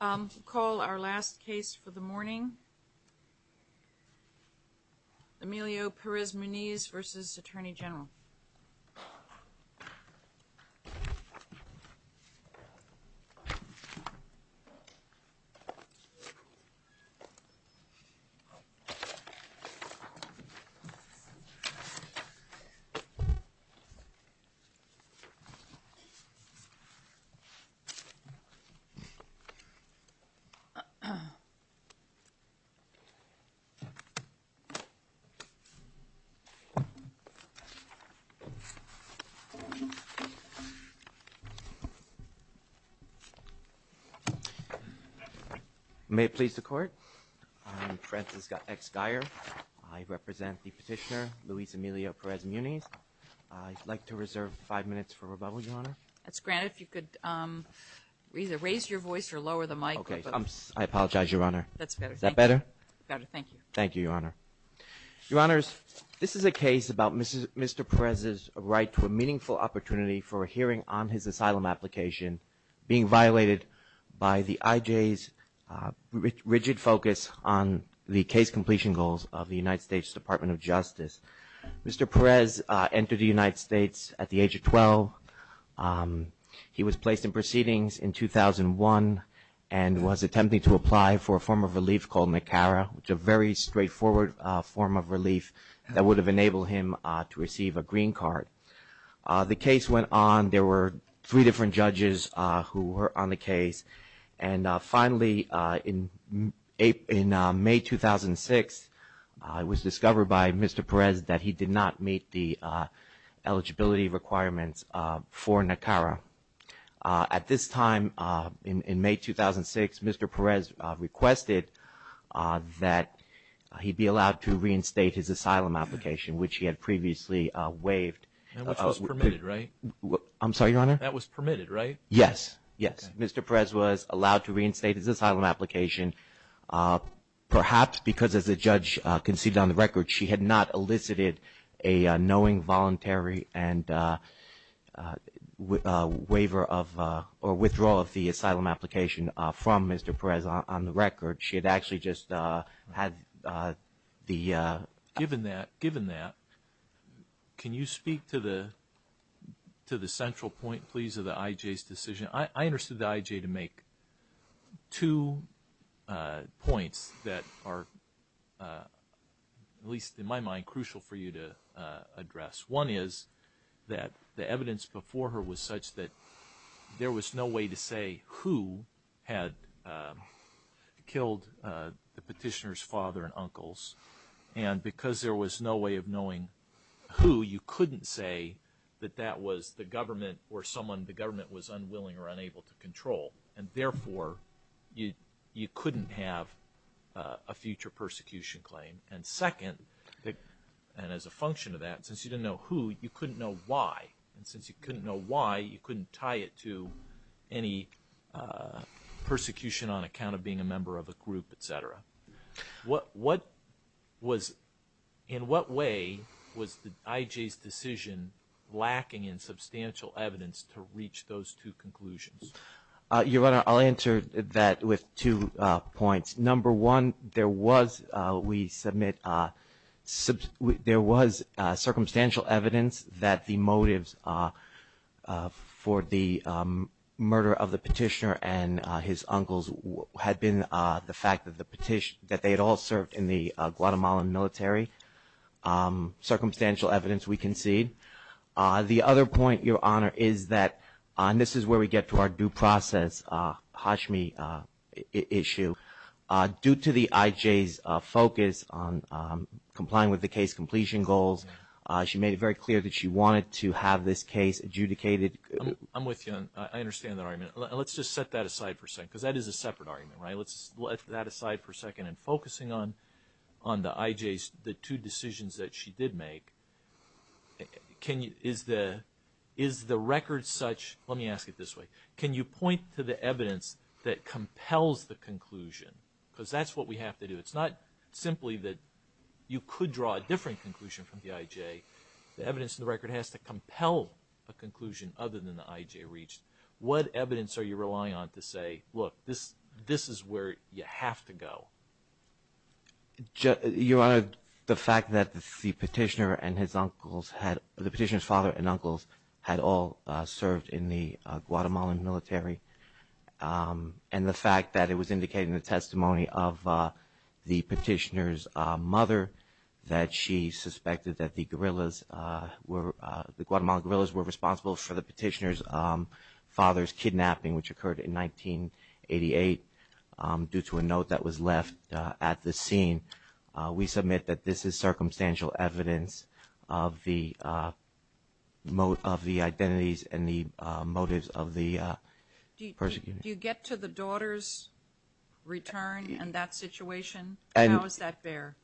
We'll call our last case for the morning, Emilio Perez-Muñiz v. Atty. Gen. May it please the Court, I'm Francis X. Geyer. I represent the petitioner Luis Emilio Perez-Muñiz. I'd like to reserve five minutes for rebuttal, Your Honor. That's granted. If you could either raise your voice or lower the mic. Okay. I apologize, Your Honor. That's better. Is that better? Better. Thank you. Thank you, Your Honor. Your Honors, this is a case about Mr. Perez's right to a meaningful opportunity for a hearing on his asylum application being violated by the IJ's rigid focus on the case completion goals of the United States Department of Justice. Mr. Perez entered the United States at the age of 12. He was placed in proceedings in 2001 and was attempting to apply for a form of relief called NACARA, which is a very straightforward form of relief that would have enabled him to receive a green card. The case went on. There were three different judges who were on the case. Finally, in May 2006, it was discovered by Mr. Perez that he did not meet the eligibility requirements for NACARA. At this time, in May 2006, Mr. Perez requested that he be allowed to reinstate his asylum application, which he had previously waived. That was permitted, right? I'm sorry, Your Honor? That was permitted, right? Yes, yes. Mr. Perez was allowed to reinstate his asylum application, perhaps because, as the judge conceded on the record, she had not elicited a knowing voluntary waiver of or withdrawal of the asylum application from Mr. Perez. On the record, she had actually just had the Given that, can you speak to the central point, please, of the IJ's decision? I understood the IJ to make two points that are, at least in my mind, crucial for you to address. One is that the evidence before her was such that there was no way to say who had killed the petitioner's father and uncles. And because there was no way of knowing who, you couldn't say that that was the government or someone the government was unwilling or unable to control. And therefore, you couldn't have a future persecution claim. And second, and as a function of that, since you didn't know who, you couldn't know why. And since you couldn't know why, you couldn't tie it to any persecution on account of being a member of a group, etc. In what way was the IJ's decision lacking in substantial evidence to reach those two conclusions? Your Honor, I'll answer that with two points. Number one, there was, we submit, there was circumstantial evidence that the motives for the murder of the petitioner and his uncles had been the fact that they had all served in the Guatemalan military. Circumstantial evidence, we concede. The other point, Your Honor, is that, and this is where we get to our due process, Hashmi issue. Due to the IJ's focus on complying with the case completion goals, she made it very clear that she wanted to have this case adjudicated. I'm with you. I understand the argument. Let's just set that aside for a second because that is a separate argument, right? Let's just let that aside for a second and focusing on the IJ's, the two decisions that she did make, is the record such, let me ask it this way, can you point to the evidence that compels the conclusion? Because that's what we have to do. It's not simply that you could draw a different conclusion from the IJ. The evidence in the record has to compel a conclusion other than the IJ reached. What evidence are you relying on to say, look, this is where you have to go? Your Honor, the fact that the petitioner and his uncles had, the petitioner's father and uncles had all served in the Guatemalan military and the fact that it was indicated in the testimony of the petitioner's mother that she suspected that the guerrillas were, the Guatemalan guerrillas were responsible for the petitioner's father's kidnapping, which occurred in 1988 due to a note that was left at the scene, we submit that this is circumstantial evidence of the identities and the motives of the person. Do you get to the daughter's return and that situation? How does that bear?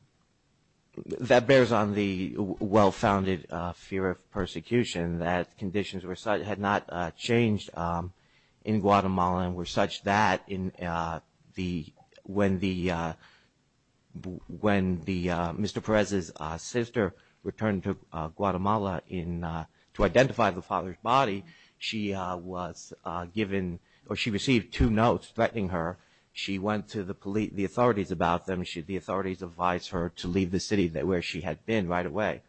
That bears on the well-founded fear of persecution, that conditions had not changed in Guatemala and were such that when the, when Mr. Perez's sister returned to Guatemala to identify the father's body, she was given or she received two notes threatening her. She went to the authorities about them. The authorities advised her to leave the city where she had been right away.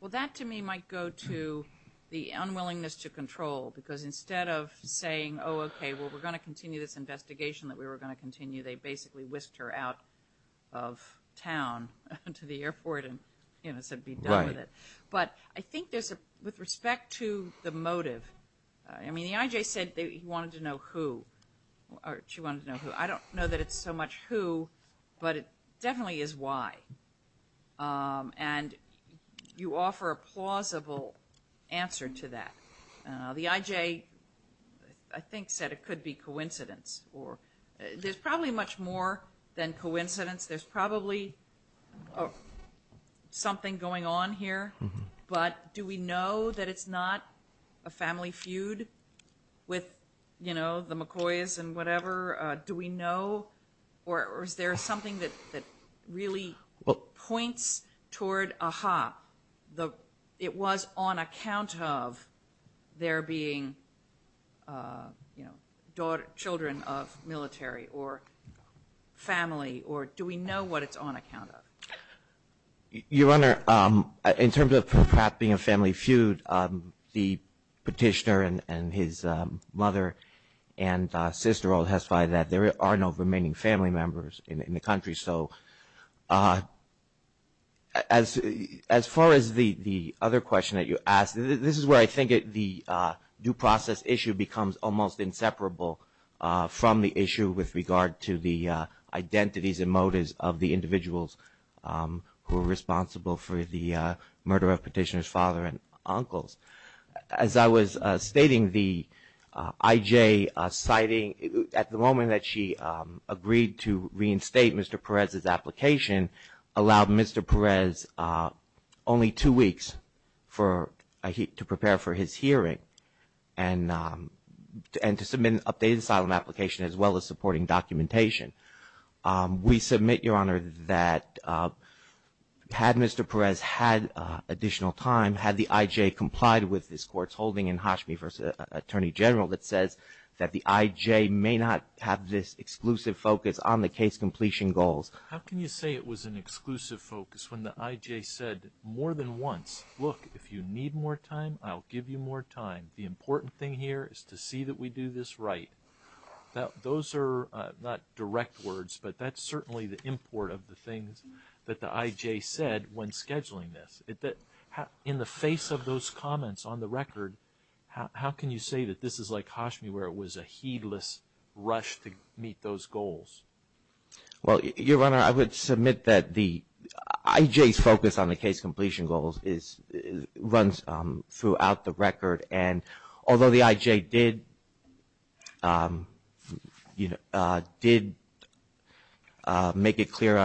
Well, that to me might go to the unwillingness to control because instead of saying, oh, okay, well, we're going to continue this investigation that we were going to continue, they basically whisked her out of town to the airport and said be done with it. But I think there's a, with respect to the motive, I mean, the IJ said he wanted to know who, or she wanted to know who. I don't know that it's so much who, but it definitely is why. And you offer a plausible answer to that. The IJ I think said it could be coincidence. There's probably much more than coincidence. There's probably something going on here. But do we know that it's not a family feud with, you know, the McCoys and whatever? Do we know, or is there something that really points toward, aha, it was on account of there being, you know, children of military or family, or do we know what it's on account of? Your Honor, in terms of perhaps being a family feud, the petitioner and his mother and sister all testified that there are no remaining family members in the country. So as far as the other question that you asked, this is where I think the due process issue becomes almost inseparable from the issue with regard to the identities and motives of the individuals who are responsible for the murder of petitioner's father and uncles. As I was stating, the IJ citing, at the moment that she agreed to reinstate Mr. Perez's application, allowed Mr. Perez only two weeks to prepare for his hearing and to submit an updated asylum application as well as supporting documentation. We submit, Your Honor, that had Mr. Perez had additional time, had the IJ complied with this court's holding in Hashmi v. Attorney General that says that the IJ may not have this exclusive focus on the case completion goals. How can you say it was an exclusive focus when the IJ said more than once, look, if you need more time, I'll give you more time. The important thing here is to see that we do this right. Those are not direct words, but that's certainly the import of the things that the IJ said when scheduling this. In the face of those comments on the record, how can you say that this is like Hashmi where it was a heedless rush to meet those goals? Well, Your Honor, I would submit that the IJ's focus on the case completion goals runs throughout the record, and although the IJ did make it clear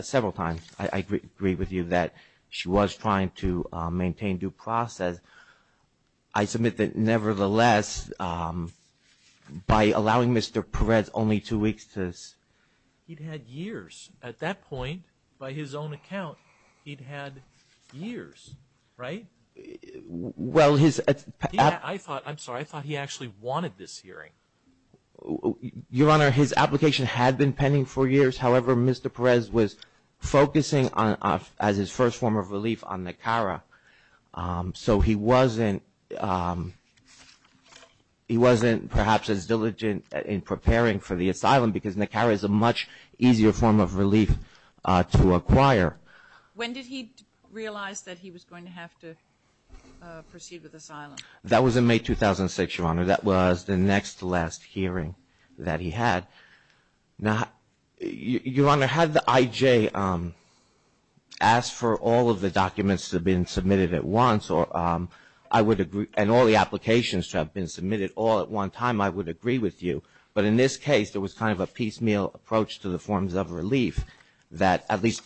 several times, I agree with you, that she was trying to maintain due process, I submit that nevertheless, by allowing Mr. Perez only two weeks to... He'd had years. At that point, by his own account, he'd had years, right? Well, his... I'm sorry, I thought he actually wanted this hearing. Your Honor, his application had been pending for years. However, Mr. Perez was focusing as his first form of relief on Nicara. So he wasn't perhaps as diligent in preparing for the asylum because Nicara is a much easier form of relief to acquire. When did he realize that he was going to have to proceed with asylum? That was in May 2006, Your Honor. That was the next to last hearing that he had. Now, Your Honor, had the IJ asked for all of the documents to have been submitted at once and all the applications to have been submitted all at one time, I would agree with you. But in this case, there was kind of a piecemeal approach to the forms of relief that at least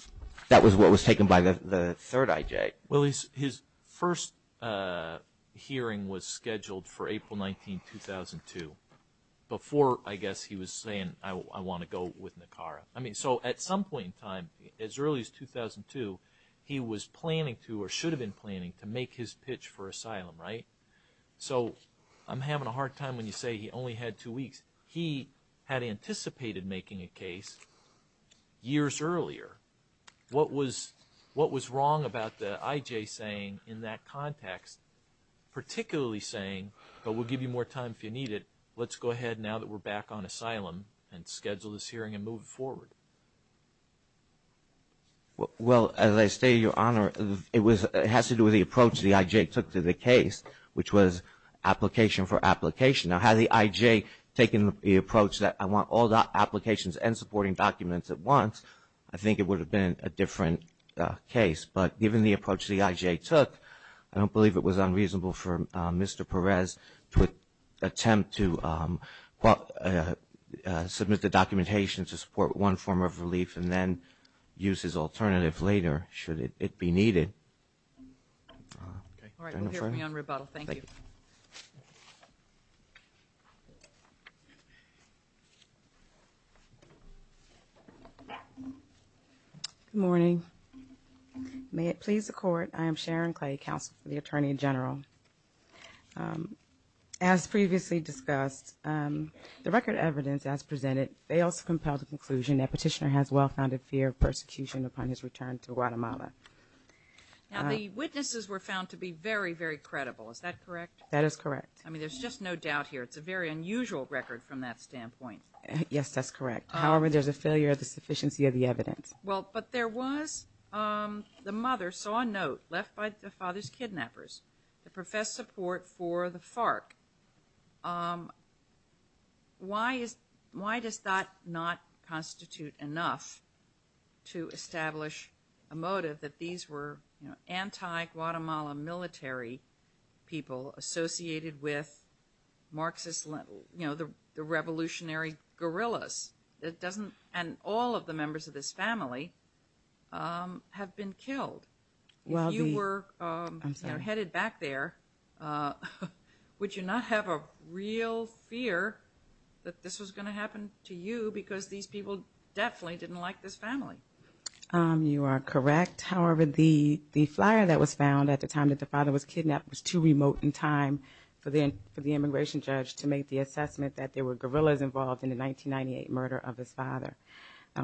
that was what was taken by the third IJ. Well, his first hearing was scheduled for April 19, 2002. Before, I guess, he was saying, I want to go with Nicara. I mean, so at some point in time, as early as 2002, he was planning to or should have been planning to make his pitch for asylum, right? So I'm having a hard time when you say he only had two weeks. He had anticipated making a case years earlier. What was wrong about the IJ saying in that context, particularly saying, but we'll give you more time if you need it, let's go ahead now that we're back on asylum and schedule this hearing and move it forward? Well, as I stated, Your Honor, it has to do with the approach the IJ took to the case, which was application for application. Now, had the IJ taken the approach that I want all the applications and supporting documents at once, I think it would have been a different case. But given the approach the IJ took, I don't believe it was unreasonable for Mr. Perez to attempt to submit the documentation to support one form of relief and then use his alternative later should it be needed. All right. We'll hear from you on rebuttal. Thank you. Good morning. May it please the Court, I am Sharon Clay, Counsel for the Attorney General. As previously discussed, the record evidence as presented fails to compel the conclusion that Petitioner has well-founded fear of persecution upon his return to Guatemala. Now, the witnesses were found to be very, very credible. Is that correct? That is correct. I mean, there's just no doubt here. It's a very unusual record from that standpoint. Yes, that's correct. However, there's a failure of the sufficiency of the evidence. Well, but there was the mother saw a note left by the father's kidnappers to profess support for the FARC. Why does that not constitute enough to establish a motive that these were anti-Guatemala military people associated with Marxist, you know, the revolutionary guerrillas? And all of the members of this family have been killed. If you were headed back there, would you not have a real fear that this was going to happen to you because these people definitely didn't like this family? You are correct. However, the flyer that was found at the time that the father was kidnapped was too remote in time for the immigration judge to make the assessment that there were guerrillas involved in the 1998 murder of his father.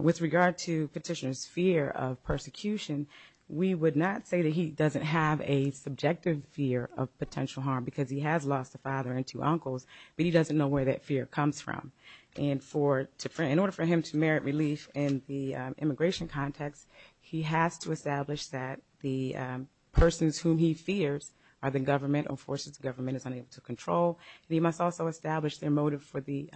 With regard to Petitioner's fear of persecution, we would not say that he doesn't have a subjective fear of potential harm because he has lost a father and two uncles, but he doesn't know where that fear comes from. In order for him to merit relief in the immigration context, he has to establish that the persons whom he fears are the government or forces the government is unable to control. He must also establish their motive for the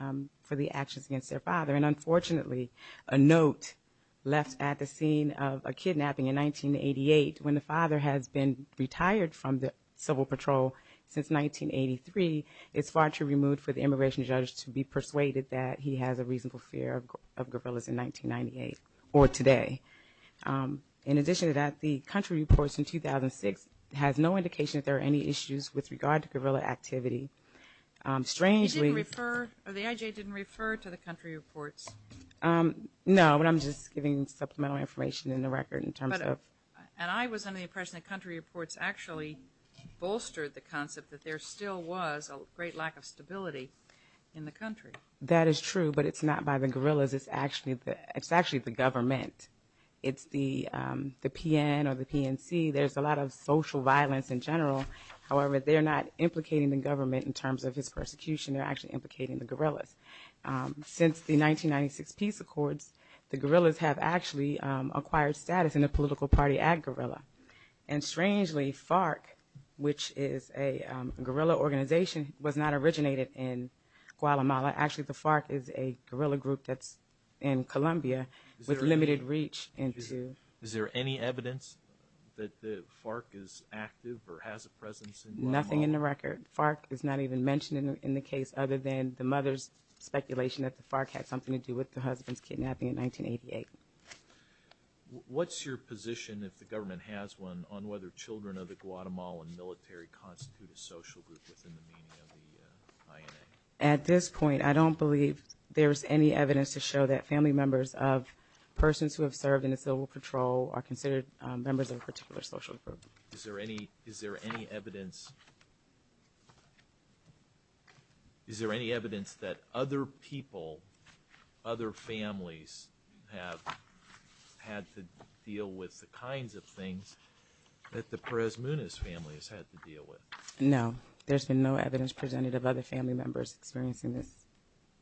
actions against their father. And unfortunately, a note left at the scene of a kidnapping in 1988, when the father has been retired from the Civil Patrol since 1983, it's far too remote for the immigration judge to be persuaded that he has a reasonable fear of guerrillas in 1998 or today. In addition to that, the country reports in 2006 has no indication that there are any issues with regard to guerrilla activity. Strangely... You didn't refer, or the IJ didn't refer to the country reports? No, but I'm just giving supplemental information in the record in terms of... And I was under the impression that country reports actually bolstered the concept that there still was a great lack of stability in the country. That is true, but it's not by the guerrillas. It's actually the government. It's the PN or the PNC. There's a lot of social violence in general. However, they're not implicating the government in terms of his persecution. They're actually implicating the guerrillas. Since the 1996 peace accords, the guerrillas have actually acquired status in the political party at guerrilla. And strangely, FARC, which is a guerrilla organization, was not originated in Guatemala. Actually, the FARC is a guerrilla group that's in Colombia with limited reach into... Is there any evidence that the FARC is active or has a presence in Guatemala? Nothing in the record. FARC is not even mentioned in the case other than the mother's speculation that the FARC had something to do with the husband's kidnapping in 1988. What's your position, if the government has one, on whether children of the Guatemalan military constitute a social group within the meaning of the INA? At this point, I don't believe there's any evidence to show that family members of persons who have served in the civil patrol are considered members of a particular social group. Is there any evidence that other people, other families have had to deal with the kinds of things that the Perez Muniz family has had to deal with? No. There's been no evidence presented of other family members experiencing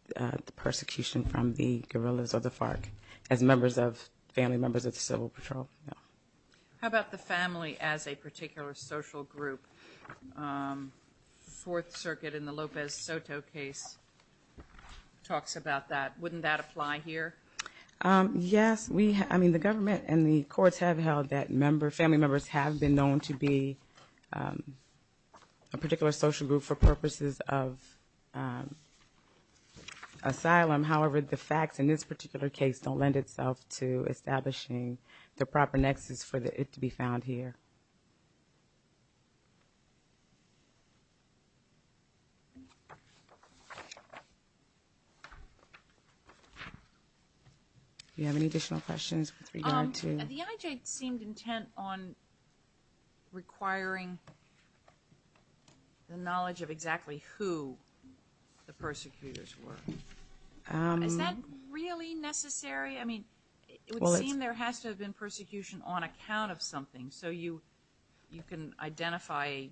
the persecution from the guerrillas or the FARC as family members of the civil patrol. How about the family as a particular social group? Fourth Circuit in the Lopez Soto case talks about that. Wouldn't that apply here? Yes. I mean, the government and the courts have held that family members have been known to be a particular social group for purposes of asylum. However, the facts in this particular case don't lend itself to establishing the proper nexus for it to be found here. Do you have any additional questions with regard to? The NIJ seemed intent on requiring the knowledge of exactly who the persecutors were. Is that really necessary? I mean, it would seem there has to have been persecution on account of something so you can identify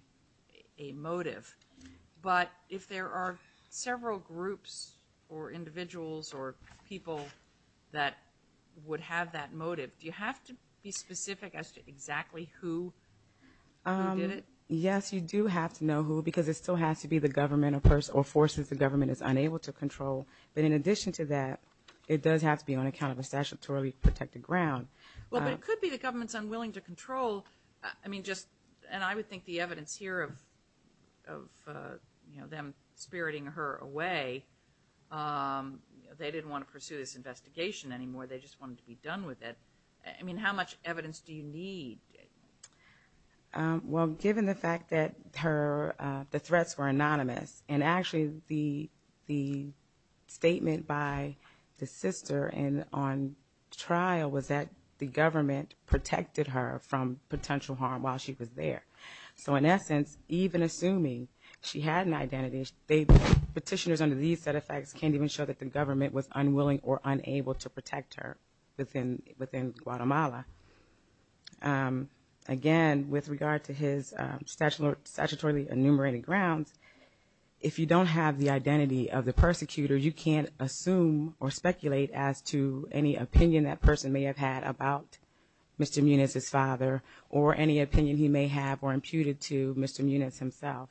a motive. But if there are several groups or individuals or people that would have that motive, do you have to be specific as to exactly who did it? Yes, you do have to know who because it still has to be the government or forces the government is unable to control. But in addition to that, it does have to be on account of a statutorily protected ground. Well, but it could be the government's unwilling to control. I mean, just – and I would think the evidence here of them spiriting her away, they didn't want to pursue this investigation anymore. They just wanted to be done with it. I mean, how much evidence do you need? Well, given the fact that the threats were anonymous and actually the statement by the sister on trial was that the government protected her from potential harm while she was there. So in essence, even assuming she had an identity, petitioners under these set of facts can't even show that the government was unwilling or unable to protect her within Guatemala. Again, with regard to his statutorily enumerated grounds, if you don't have the identity of the persecutor, you can't assume or speculate as to any opinion that person may have had about Mr. Muniz's father or any opinion he may have or imputed to Mr. Muniz himself.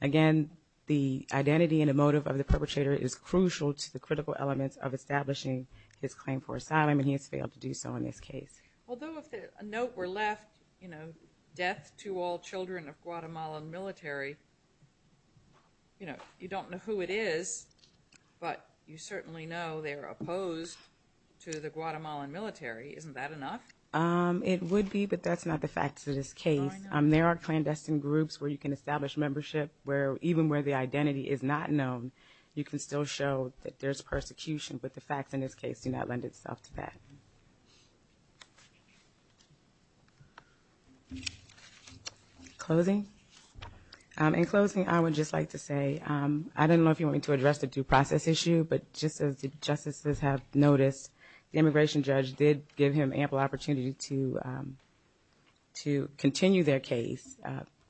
Again, the identity and emotive of the perpetrator is crucial to the critical elements of establishing his claim for asylum, and he has failed to do so in this case. Although if a note were left, you know, death to all children of Guatemalan military, you know, you don't know who it is, but you certainly know they are opposed to the Guatemalan military. Isn't that enough? It would be, but that's not the fact of this case. There are clandestine groups where you can establish membership, where even where the identity is not known, you can still show that there's persecution, but the facts in this case do not lend itself to that. Closing. In closing, I would just like to say, I don't know if you want me to address the due process issue, but just as the justices have noticed, the immigration judge did give him ample opportunity to continue their case.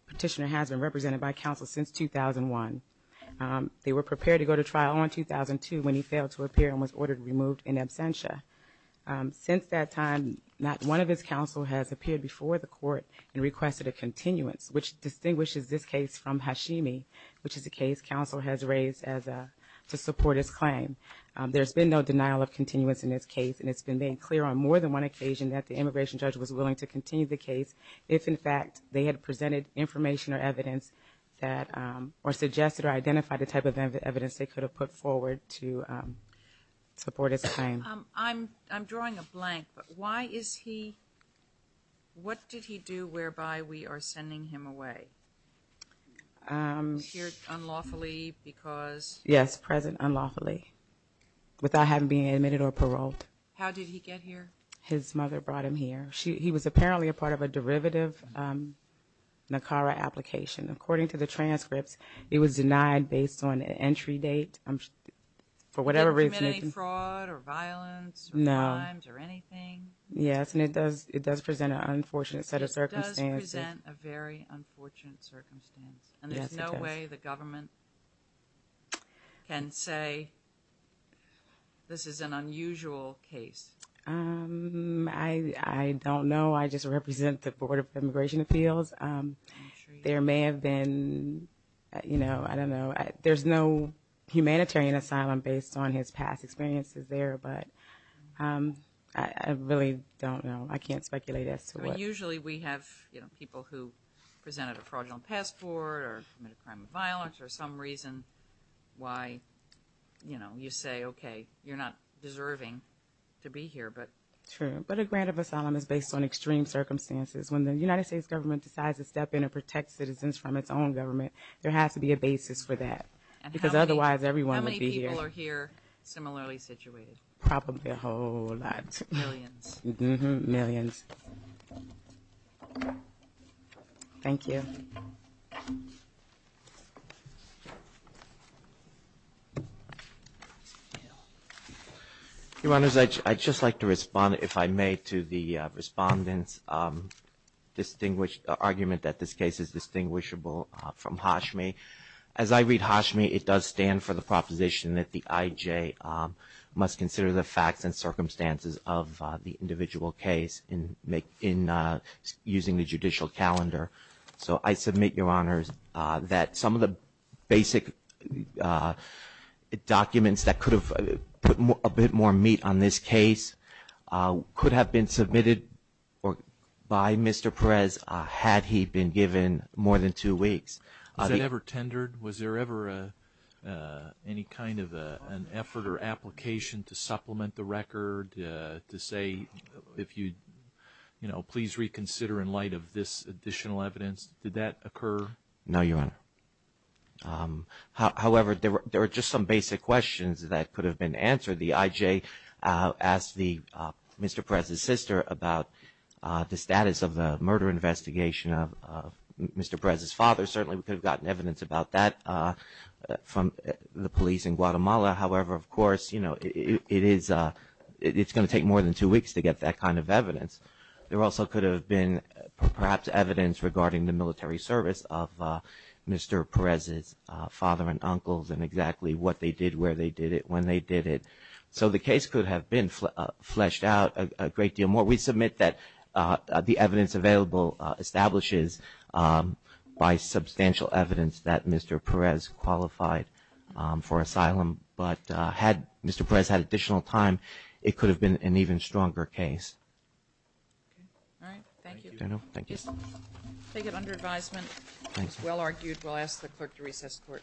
Petitioner has been represented by counsel since 2001. They were prepared to go to trial in 2002 when he failed to appear and was ordered removed in absentia. Since that time, not one of his counsel has appeared before the court and requested a continuance, which distinguishes this case from Hashimi, which is a case counsel has raised to support his claim. There's been no denial of continuance in this case, and it's been made clear on more than one occasion that the immigration judge was willing to continue the case if, in fact, they had presented information or evidence or suggested or identified the type of evidence they could have put forward to support his claim. I'm drawing a blank, but why is he, what did he do whereby we are sending him away? Here unlawfully because? Yes, present unlawfully without having been admitted or paroled. How did he get here? His mother brought him here. He was apparently a part of a derivative NACARA application. According to the transcripts, it was denied based on an entry date. For whatever reason. Any fraud or violence or crimes or anything? No. Yes, and it does present an unfortunate set of circumstances. It does present a very unfortunate circumstance. Yes, it does. And there's no way the government can say this is an unusual case? I don't know. I just represent the Board of Immigration Appeals. There may have been, you know, I don't know. There's no humanitarian asylum based on his past experiences there, but I really don't know. I can't speculate as to what. I mean, usually we have, you know, people who presented a fraudulent passport or committed a crime of violence or some reason why, you know, you say, okay, you're not deserving to be here, but. True, but a grant of asylum is based on extreme circumstances. When the United States government decides to step in and protect citizens from its own government, there has to be a basis for that because otherwise everyone would be here. And how many people are here similarly situated? Probably a whole lot. Millions. Millions. Thank you. Your Honors, I'd just like to respond, if I may, to the Respondent's argument that this case is distinguishable from Hashmi. As I read Hashmi, it does stand for the proposition that the IJ must consider the facts and circumstances of the individual case in using the judicial calendar. So I submit, Your Honors, that some of the basic documents that could have put a bit more meat on this case could have been submitted by Mr. Perez had he been given more than two weeks. Was that ever tendered? Was there ever any kind of an effort or application to supplement the record to say, if you'd please reconsider in light of this additional evidence? Did that occur? No, Your Honor. However, there were just some basic questions that could have been answered. The IJ asked Mr. Perez's sister about the status of the murder investigation of Mr. Perez's father. Certainly, we could have gotten evidence about that from the police in Guatemala. However, of course, it's going to take more than two weeks to get that kind of evidence. There also could have been perhaps evidence regarding the military service of Mr. Perez's father and uncles and exactly what they did, where they did it, when they did it. So the case could have been fleshed out a great deal more. We submit that the evidence available establishes by substantial evidence that Mr. Perez qualified for asylum. But had Mr. Perez had additional time, it could have been an even stronger case. All right. Thank you. Thank you. Take it under advisement. It was well argued. We'll ask the clerk to recess the Court. All rise.